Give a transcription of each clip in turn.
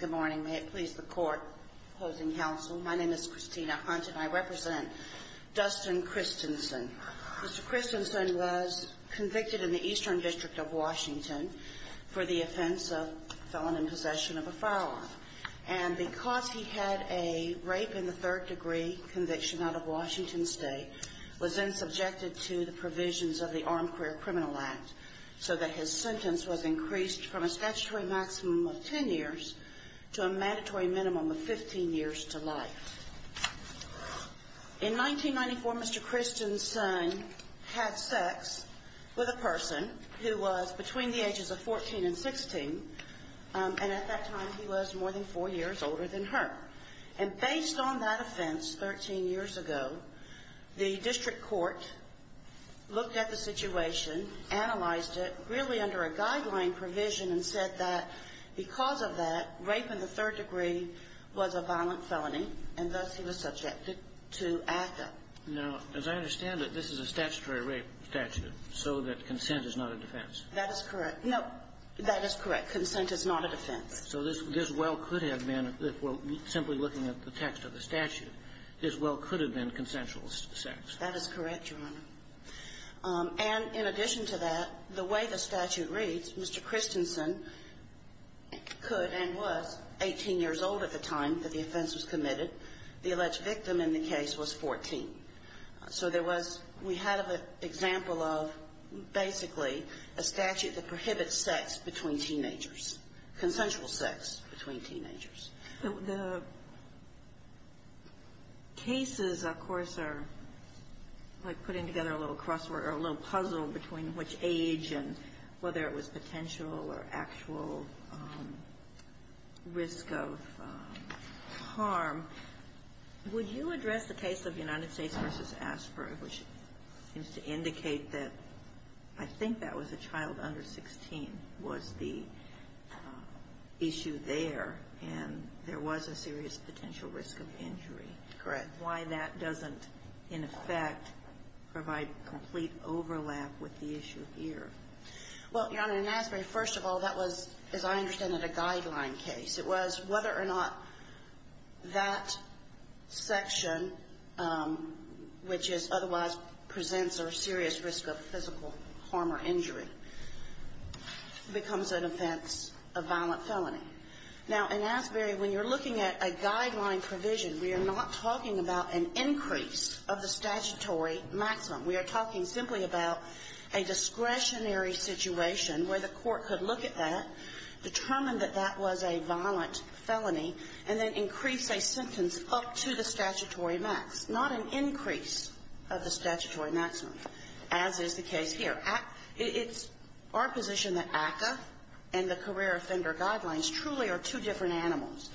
Good morning. May it please the court opposing counsel. My name is Christina Hunt and I represent Dustin Christensen. Mr. Christensen was convicted in the Eastern District of Washington for the offense of felon in possession of a firearm. And because he had a rape in the third degree conviction out of Washington State, was then subjected to the provisions of the Armed Career Criminal Act so that his sentence was increased from a statutory maximum of 10 years to a mandatory minimum of 15 years to life. In 1994, Mr. Christensen had sex with a person who was between the ages of 14 and 16. And at that time, he was more than four years older than her. And based on that offense 13 years ago, the district court looked at the situation, analyzed it really under a guideline provision and said that because of that, rape in the third degree was a violent felony, and thus he was subjected to ACCA. Now, as I understand it, this is a statutory rape statute, so that consent is not a defense. That is correct. No, that is correct. Consent is not a defense. So this well could have been, if we're simply looking at the text of the statute, this well could have been consensual sex. That is correct, Your Honor. And in addition to that, the way the statute reads, Mr. Christensen could and was 18 years old at the time that the offense was committed. The alleged victim in the case was 14. So there was we had an example of basically a statute that prohibits sex between teenagers, consensual sex between teenagers. The cases, of course, are like putting together a little crossword or a little puzzle between which age and whether it was potential or actual risk of harm. Would you address the case of United States v. Asprey, which seems to indicate that I think that was a child under 16 was the issue there, and there was a serious potential risk of injury? Correct. Why that doesn't, in effect, provide complete overlap with the issue here? Well, Your Honor, in Asprey, first of all, that was, as I understand it, a guideline case. It was whether or not that section, which is otherwise presents a serious risk of physical harm or injury, becomes an offense of violent felony. Now, in Asprey, when you're looking at a guideline provision, we are not talking about an increase of the statutory maximum. We are talking simply about a discretionary situation where the court could look at that, determine that that was a violent felony, and then increase a sentence up to the statutory max, not an increase of the statutory maximum, as is the case here. It's our position that ACCA and the career offender guidelines truly are two different animals.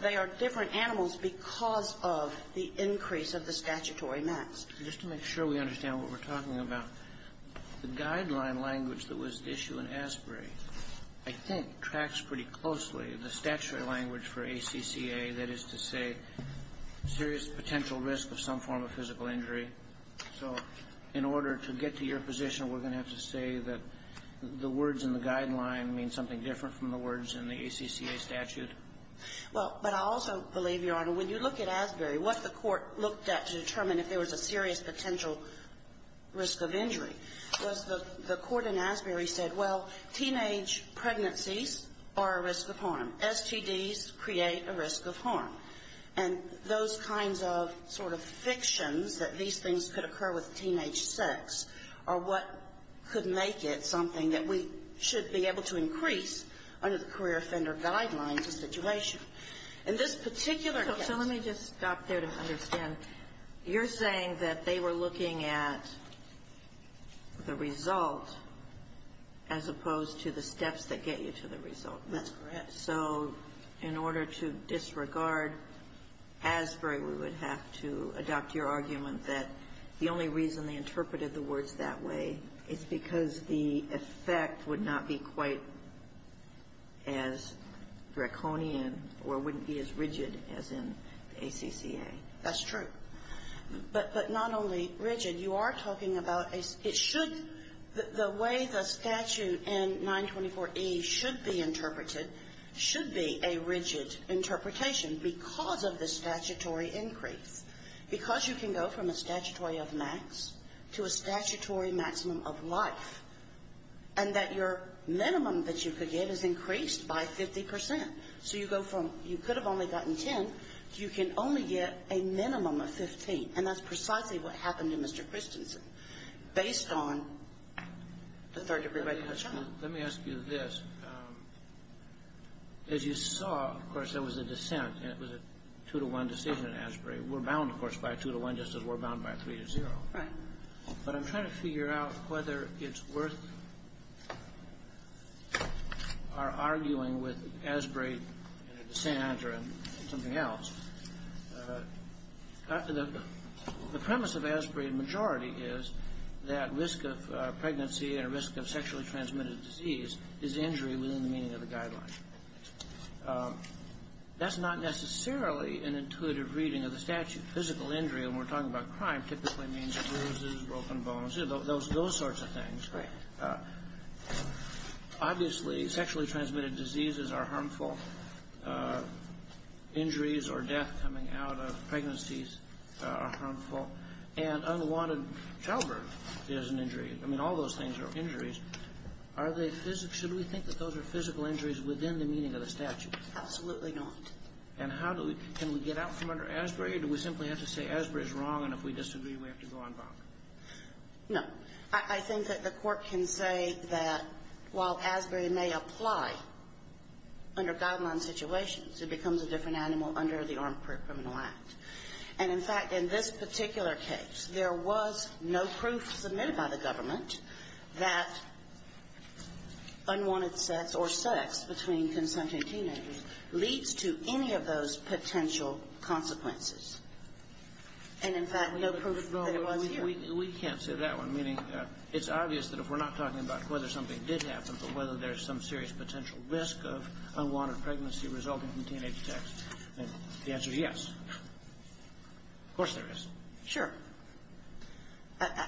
They are different animals because of the increase of the statutory max. Just to make sure we understand what we're talking about, the guideline language that was at issue in Asprey, I think, tracks pretty closely the statutory language for ACCA, that is to say serious potential risk of some form of physical injury. So in order to get to your position, we're going to have to say that the words in the ACCA statute. Well, but I also believe, Your Honor, when you look at Asprey, what the court looked at to determine if there was a serious potential risk of injury was the court in Asprey said, well, teenage pregnancies are a risk of harm. STDs create a risk of harm. And those kinds of sort of fictions that these things could occur with teenage sex are what could make it something that we should be able to increase under the career offender guidelines situation. In this particular case So let me just stop there to understand. You're saying that they were looking at the result as opposed to the steps that get you to the result. That's correct. So in order to disregard Asprey, we would have to adopt your argument that the only reason they interpreted the words that way is because the effect would not be quite as draconian or wouldn't be as rigid as in the ACCA. That's true. But not only rigid, you are talking about it should the way the statute in 924E should be interpreted should be a rigid interpretation because of the statutory increase. Because you can go from a statutory of max to a statutory maximum of life and that your minimum that you could get is increased by 50 percent. So you go from you could have only gotten 10, you can only get a minimum of 15. And that's precisely what happened to Mr. Christensen based on the third-degree regulation. Let me ask you this. As you saw, of course, there was a dissent, and it was a two-to-one decision in Asprey. We're bound, of course, by a two-to-one just as we're bound by a three-to-zero. Right. But I'm trying to figure out whether it's worth our arguing with Asprey and a dissent or something else. The premise of Asprey in majority is that risk of pregnancy and risk of sexually transmitted disease is injury within the meaning of the guideline. That's not necessarily an intuitive reading of the statute. Physical injury, when we're talking about crime, typically means bruises, broken bones, those sorts of things. Right. Obviously, sexually transmitted diseases are harmful. Injuries or death coming out of pregnancies are harmful. And unwanted childbirth is an injury. I mean, all those things are injuries. Are they physical? Should we think that those are physical injuries within the meaning of the statute? Absolutely not. And how do we get out from under Asprey, or do we simply have to say Asprey is wrong, and if we disagree, we have to go on bond? No. I think that the Court can say that while Asprey may apply under guideline situations, it becomes a different animal under the Armed Criminal Act. And, in fact, in this particular case, there was no proof submitted by the government that unwanted sex or sex between consenting teenagers leads to any of those potential consequences. And, in fact, no proof that it was here. We can't say that one, meaning it's obvious that if we're not talking about whether something did happen, but whether there's some serious potential risk of unwanted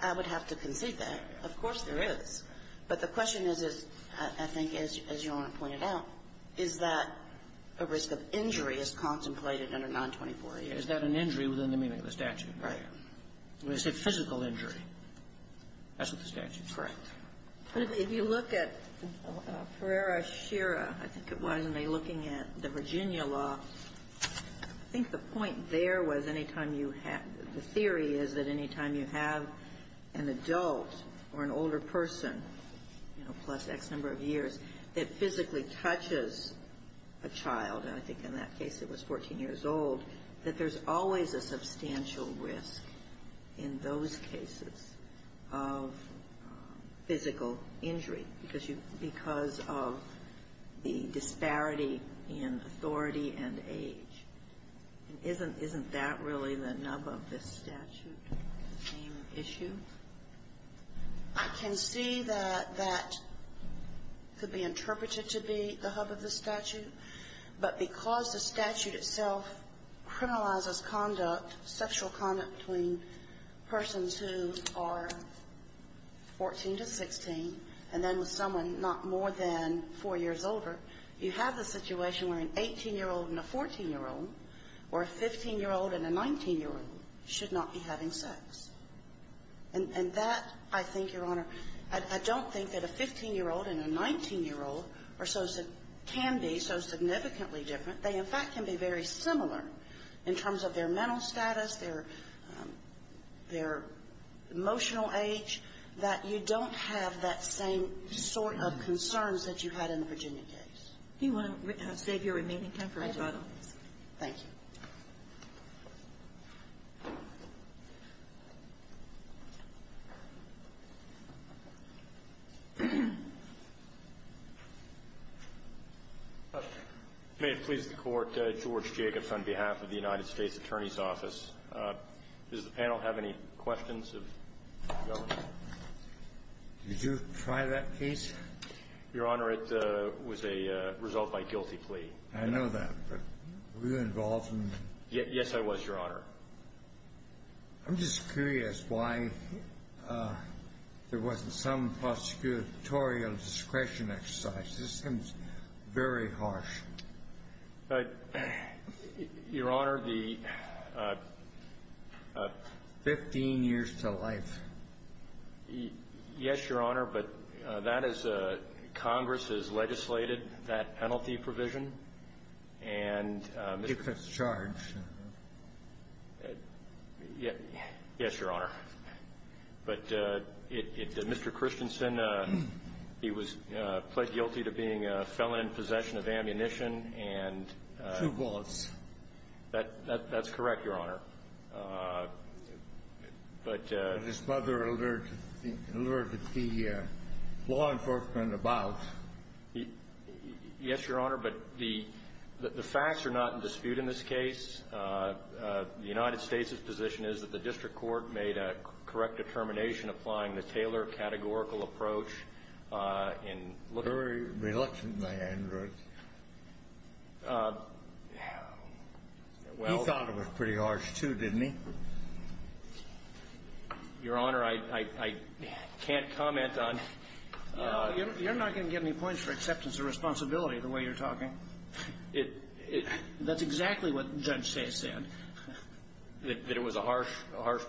I would have to concede that. Of course there is. But the question is, I think, as Your Honor pointed out, is that a risk of injury is contemplated under 924-E. Is that an injury within the meaning of the statute? Right. It's a physical injury. That's what the statute says. Correct. But if you look at Pereira-Shira, I think it was, and they're looking at the Virginia law, I think the point there was any time you have, the theory is that any time you have an adult or an older person, you know, plus X number of years, that physically touches a child, and I think in that case it was 14 years old, that there's always a substantial risk in those cases of physical injury because you, because of the disparity in authority and age. And isn't that really the nub of this statute, the same issue? I can see that that could be interpreted to be the hub of the statute, but because the statute itself criminalizes conduct, sexual conduct between persons who are 14 to 16, and then with someone not more than 4 years older, you have a situation where an 18-year-old and a 14-year-old or a 15-year-old and a 19-year-old should not be having sex. And that, I think, Your Honor, I don't think that a 15-year-old and a 19-year-old can be so significantly different. They, in fact, can be very similar in terms of their mental status, their emotional age, that you don't have that same sort of concerns that you had in the Virginia case. Do you want to save your remaining time for a couple of questions? Thank you. May it please the Court. George Jacobs on behalf of the United States Attorney's Office. Does the panel have any questions of the Governor? Did you try that case? Your Honor, it was a result by guilty plea. I know that, but were you involved in it? Yes, I was, Your Honor. I'm just curious why there wasn't some prosecutorial discretion exercise. This seems very harsh. Your Honor, the 15 years to life. Yes, Your Honor, but that is a – Congress has legislated that penalty provision. And Mr. – Because it's charged. Yes, Your Honor. But it – Mr. Christensen, he was pled guilty to being a felon in possession of ammunition and – Two bullets. That's correct, Your Honor. But – But his mother alerted the law enforcement about – Yes, Your Honor, but the facts are not in dispute in this case. The United States' position is that the district court made a correct determination applying the Taylor categorical approach in looking – Very reluctant by Andrews. He thought it was pretty harsh, too, didn't he? Your Honor, I can't comment on – You're not going to get any points for acceptance of responsibility the way you're talking. It – That's exactly what Judge Sands said. That it was a harsh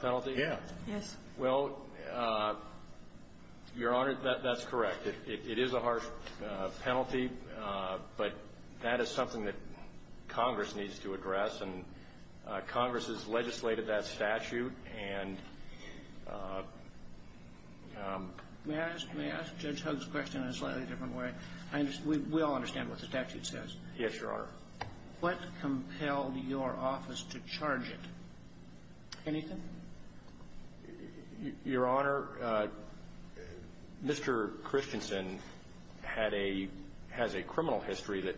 penalty? Yes. Well, Your Honor, that's correct. It is a harsh penalty, but that is something that Congress needs to address, and Congress has legislated that statute, and – May I ask – may I ask Judge Huggs' question in a slightly different way? We all understand what the statute says. Yes, Your Honor. What compelled your office to charge it? Anything? Your Honor, Mr. Christensen had a – has a criminal history that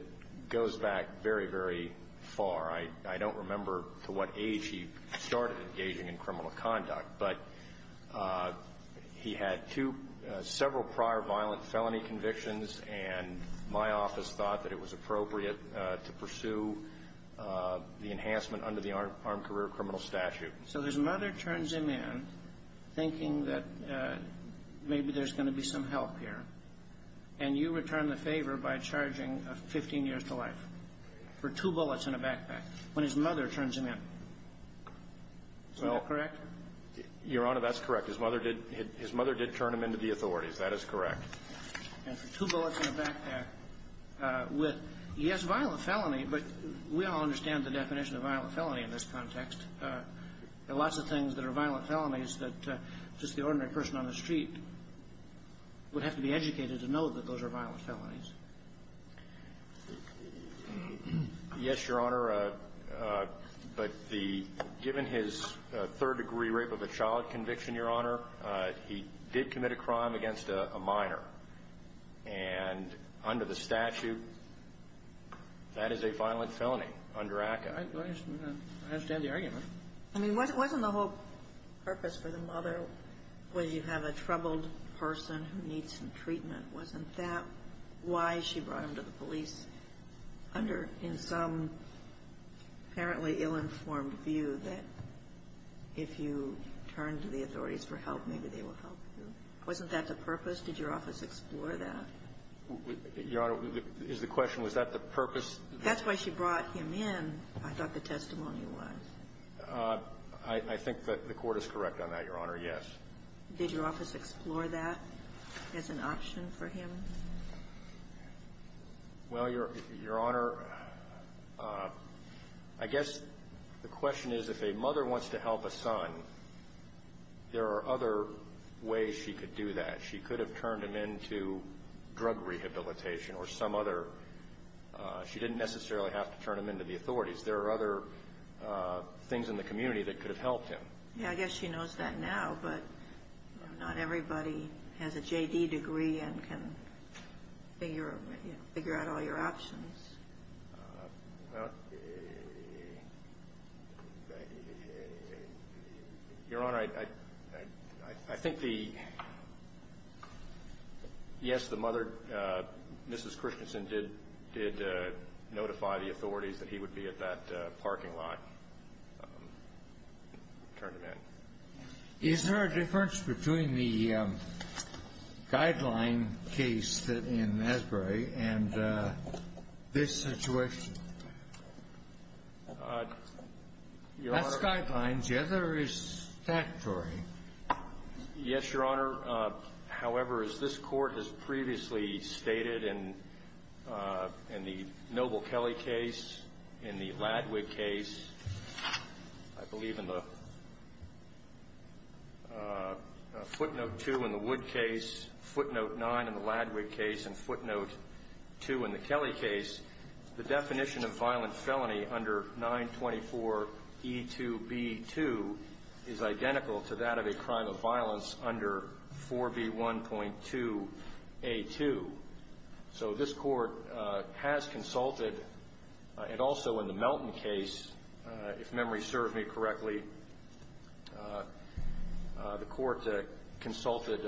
goes back very, very far. I don't remember to what age he started engaging in criminal conduct, but he had two – several prior violent felony convictions, and my office thought that it was appropriate to pursue the enhancement under the Armed Career Criminal Statute. So his mother turns him in, thinking that maybe there's going to be some help here, and you return the favor by charging 15 years to life for two bullets in a backpack when his mother turns him in. Is that correct? Your Honor, that's correct. His mother did – his mother did turn him into the authorities. That is correct. And for two bullets in a backpack with – he has violent felony, but we all understand the definition of violent felony in this context. There are lots of things that are violent felonies that just the ordinary person on the street would have to be educated to know that those are violent felonies. Yes, Your Honor, but the – given his third-degree rape of a child conviction, Your Honor, he did commit a crime against a minor, and under the statute, that is a violent felony under ACCA. I understand the argument. I mean, wasn't the whole purpose for the mother was you have a troubled person who needs some treatment? Wasn't that why she brought him to the police? Under – in some apparently ill-informed view that if you turn to the authorities for help, maybe they will help you. Wasn't that the purpose? Did your office explore that? Your Honor, is the question, was that the purpose? That's why she brought him in, I thought the testimony was. I think that the Court is correct on that, Your Honor, yes. Did your office explore that as an option for him? Well, Your Honor, I guess the question is if a mother wants to help a son, there are other ways she could do that. She could have turned him into drug rehabilitation or some other – she didn't necessarily have to turn him into the authorities. There are other things in the community that could have helped him. Yeah, I guess she knows that now, but not everybody has a J.D. degree and can figure out all your options. Well, Your Honor, I think the – yes, the mother, Mrs. Christensen, did notify the authorities that he would be at that parking lot, turn him in. Is there a difference between the guideline case in Asbury and this situation? Your Honor – That's guidelines. The other is statutory. Yes, Your Honor. However, as this Court has previously stated in the Noble-Kelley case, in the Ladwig case, I believe in the Footnote 2 in the Wood case, Footnote 9 in the Ladwig case, and Footnote 2 in the Kelley case, the definition of violent felony under 924E2B2 is identical to that of a crime of violence under 4B1.2A2. So this Court has consulted, and also in the Melton case, if memory serves me correctly, the Court consulted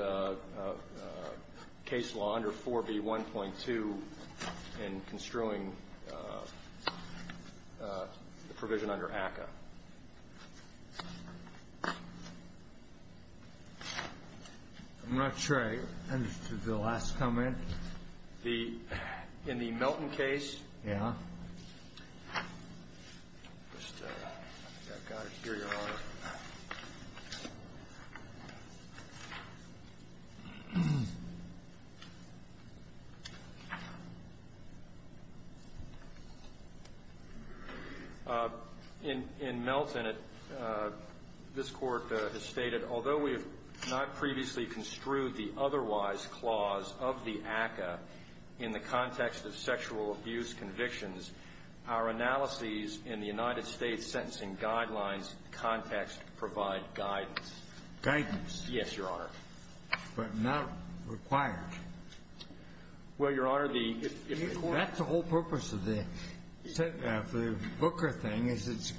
case law under 4B1.2 in construing the provision under ACCA. I'm not sure I understood the last comment. The – in the Melton case? Yes. I've got it here, Your Honor. In Melton, this Court has stated, although we have not previously construed the otherwise clause of the ACCA in the context of sexual abuse convictions, our analyses in the United States Sentencing Guidelines context provide guidance. Guidance. Yes, Your Honor. But not required. Well, Your Honor, the – That's the whole purpose of the Booker thing, is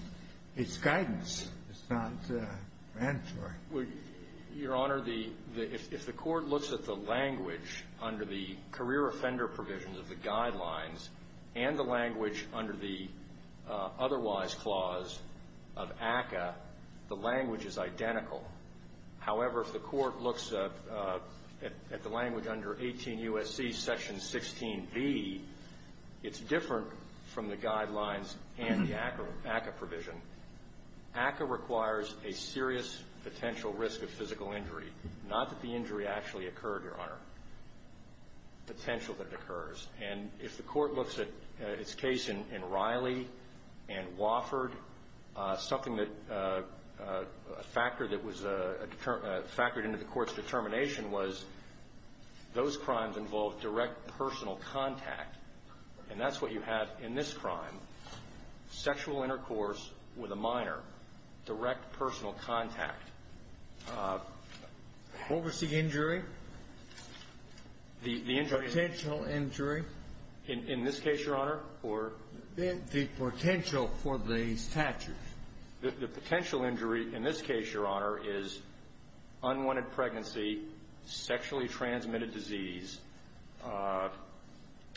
it's guidance. It's not mandatory. Well, Your Honor, the – if the Court looks at the language under the career offender provisions of the Guidelines and the language under the otherwise clause of ACCA, the language is identical. However, if the Court looks at the language under 18 U.S.C. Section 16B, it's different from the Guidelines and the ACCA provision. ACCA requires a serious potential risk of physical injury. Not that the injury actually occurred, Your Honor. Potential that it occurs. And if the Court looks at its case in Riley and Wofford, something that – a factor that was factored into the Court's determination was those crimes involved direct personal contact. And that's what you have in this crime. Sexual intercourse with a minor, direct personal contact. What was the injury? The injury is – Potential injury. In this case, Your Honor, or – The potential for the statute. The potential injury in this case, Your Honor, is unwanted pregnancy, sexually transmitted disease,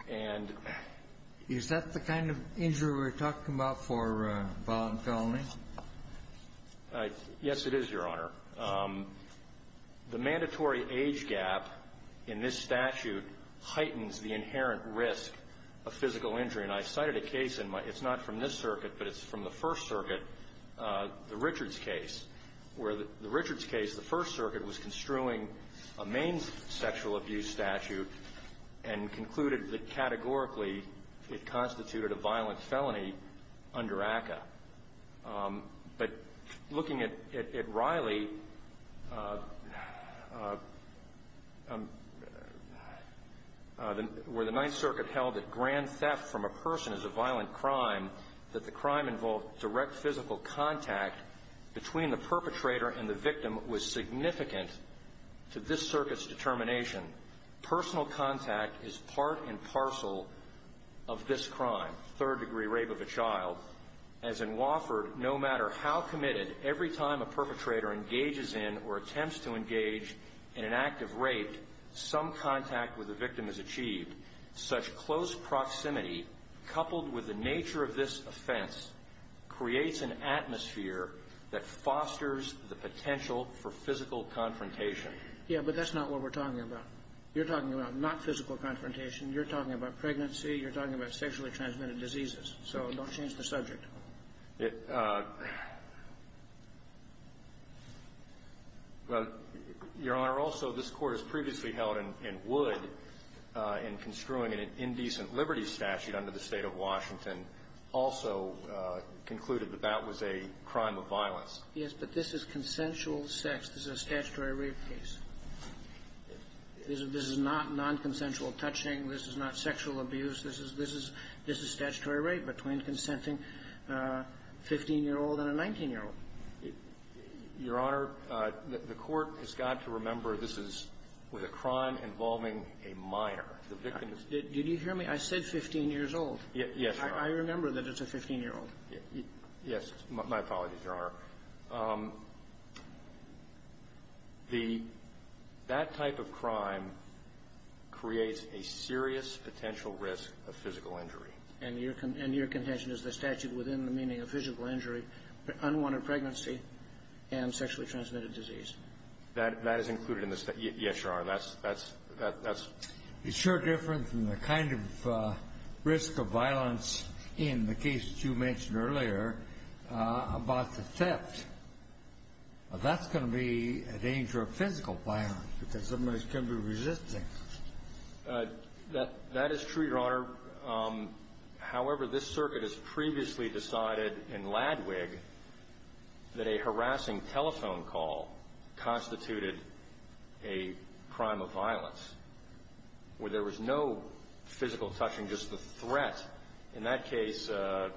and – Is that the kind of injury we're talking about for violent felony? Yes, it is, Your Honor. The mandatory age gap in this statute heightens the inherent risk of physical injury. And I cited a case in my – it's not from this circuit, but it's from the First Circuit, the Richards case, where the Richards case, the First Circuit was construing a main sexual abuse statute and concluded that categorically it constituted a violent felony under ACCA. But looking at Riley, where the Ninth Circuit held that grand theft from a person is a violent crime, that the crime involved direct physical contact between the perpetrator and the victim was significant to this circuit's determination, personal contact is part and parcel of this crime, third-degree rape of a child, as in Wofford, no matter how committed, every time a perpetrator engages in or attempts to engage in an act of rape, some contact with the victim is achieved. Such close proximity, coupled with the nature of this offense, creates an atmosphere that Yeah, but that's not what we're talking about. You're talking about not physical confrontation. You're talking about pregnancy. You're talking about sexually transmitted diseases. So don't change the subject. It – Your Honor, also, this Court has previously held and would in construing an indecent liberties statute under the State of Washington also concluded that that was a crime of violence. Yes, but this is consensual sex. This is a statutory rape case. This is not nonconsensual touching. This is not sexual abuse. This is statutory rape between consenting a 15-year-old and a 19-year-old. Your Honor, the Court has got to remember this is a crime involving a minor. The victim is – Did you hear me? I said 15 years old. Yes, Your Honor. I remember that it's a 15-year-old. Yes. My apologies, Your Honor. The – that type of crime creates a serious potential risk of physical injury. And your – and your contention is the statute within the meaning of physical injury, unwanted pregnancy, and sexually transmitted disease. That – that is included in the – yes, Your Honor. That's – that's – that's – It's sure different from the kind of risk of violence in the case you mentioned earlier about the theft. That's going to be a danger of physical violence because somebody's going to be resisting. That – that is true, Your Honor. However, this circuit has previously decided in Ladwig that a harassing telephone call constituted a crime of violence where there was no physical touching, just the threat. In that case, the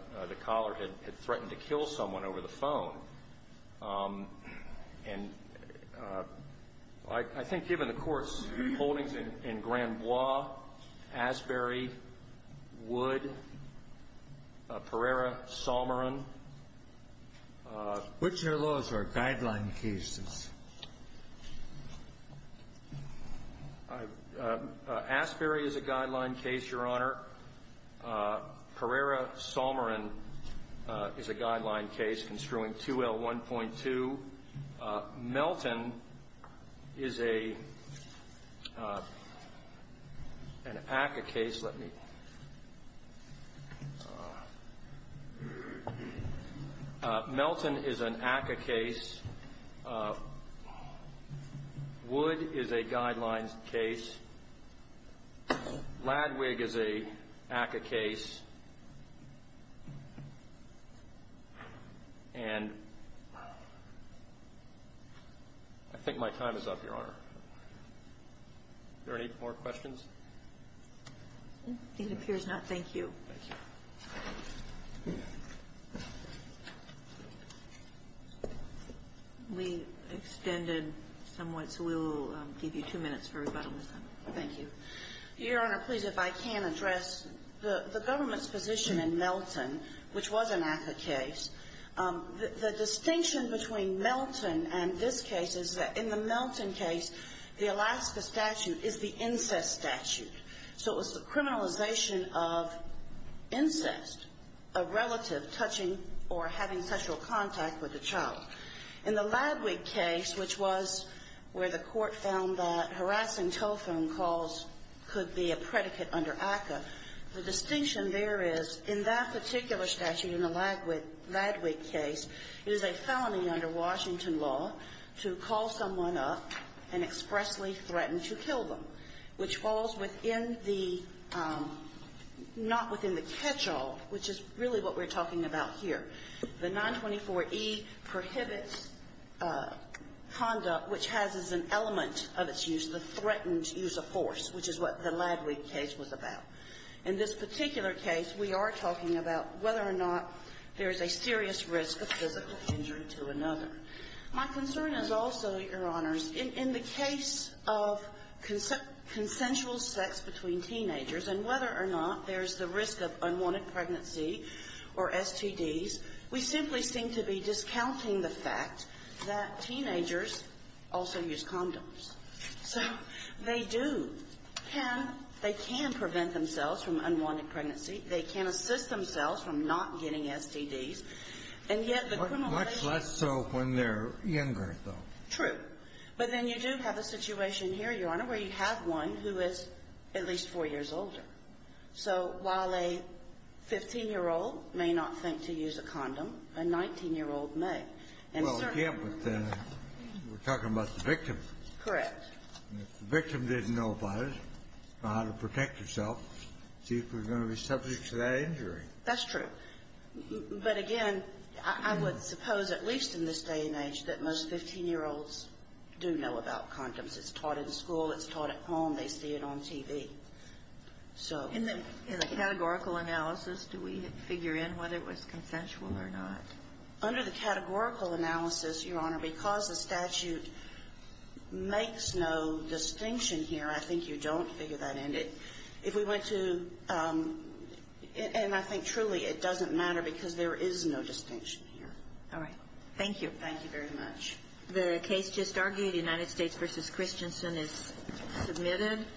caller had threatened to kill someone over the phone. And I think given the Court's holdings in Granbois, Asbury, Wood, Pereira, Salmeron. Which of those are guideline cases? Asbury is a guideline case, Your Honor. Pereira, Salmeron is a guideline case construing 2L1.2. Melton is a – an ACCA case. Please let me – Melton is an ACCA case. Wood is a guidelines case. Ladwig is a ACCA case. And I think my time is up, Your Honor. Are there any more questions? It appears not. Thank you. Thank you. We extended somewhat, so we'll give you two minutes for rebuttal this time. Thank you. Your Honor, please, if I can address the government's position in Melton, which was an ACCA case. The distinction between Melton and this case is that in the Melton case, the Alaska statute is the incest statute. So it was the criminalization of incest, a relative touching or having sexual contact with a child. In the Ladwig case, which was where the Court found that harassing telephone calls could be a predicate under ACCA, the distinction there is in that particular statute in the Ladwig case, it is a felony under Washington law to call someone up and expressly threaten to kill them, which falls within the – not within the catch-all, which is really what we're talking about here. The 924E prohibits conduct which has as an element of its use the threatened use of force, which is what the Ladwig case was about. In this particular case, we are talking about whether or not there is a serious risk of physical injury to another. My concern is also, Your Honors, in the case of consensual sex between teenagers and whether or not there is the risk of unwanted pregnancy or STDs, we simply seem to be discounting the fact that teenagers also use condoms. So they do. They can prevent themselves from unwanted pregnancy. They can assist themselves from not getting STDs. And yet the criminalization – Much less so when they're younger, though. True. But then you do have a situation here, Your Honor, where you have one who is at least 4 years older. So while a 15-year-old may not think to use a condom, a 19-year-old may. Well, again, but then we're talking about the victim. Correct. And if the victim didn't know about it, know how to protect herself, see if we're going to be subject to that injury. That's true. But, again, I would suppose at least in this day and age that most 15-year-olds do know about condoms. It's taught in school. It's taught at home. They see it on TV. So – In the categorical analysis, do we figure in whether it was consensual or not? Under the categorical analysis, Your Honor, because the statute makes no distinction here, I think you don't figure that in. If we went to – and I think truly it doesn't matter because there is no distinction here. All right. Thank you. Thank you very much. The case just argued, United States v. Christensen is submitted.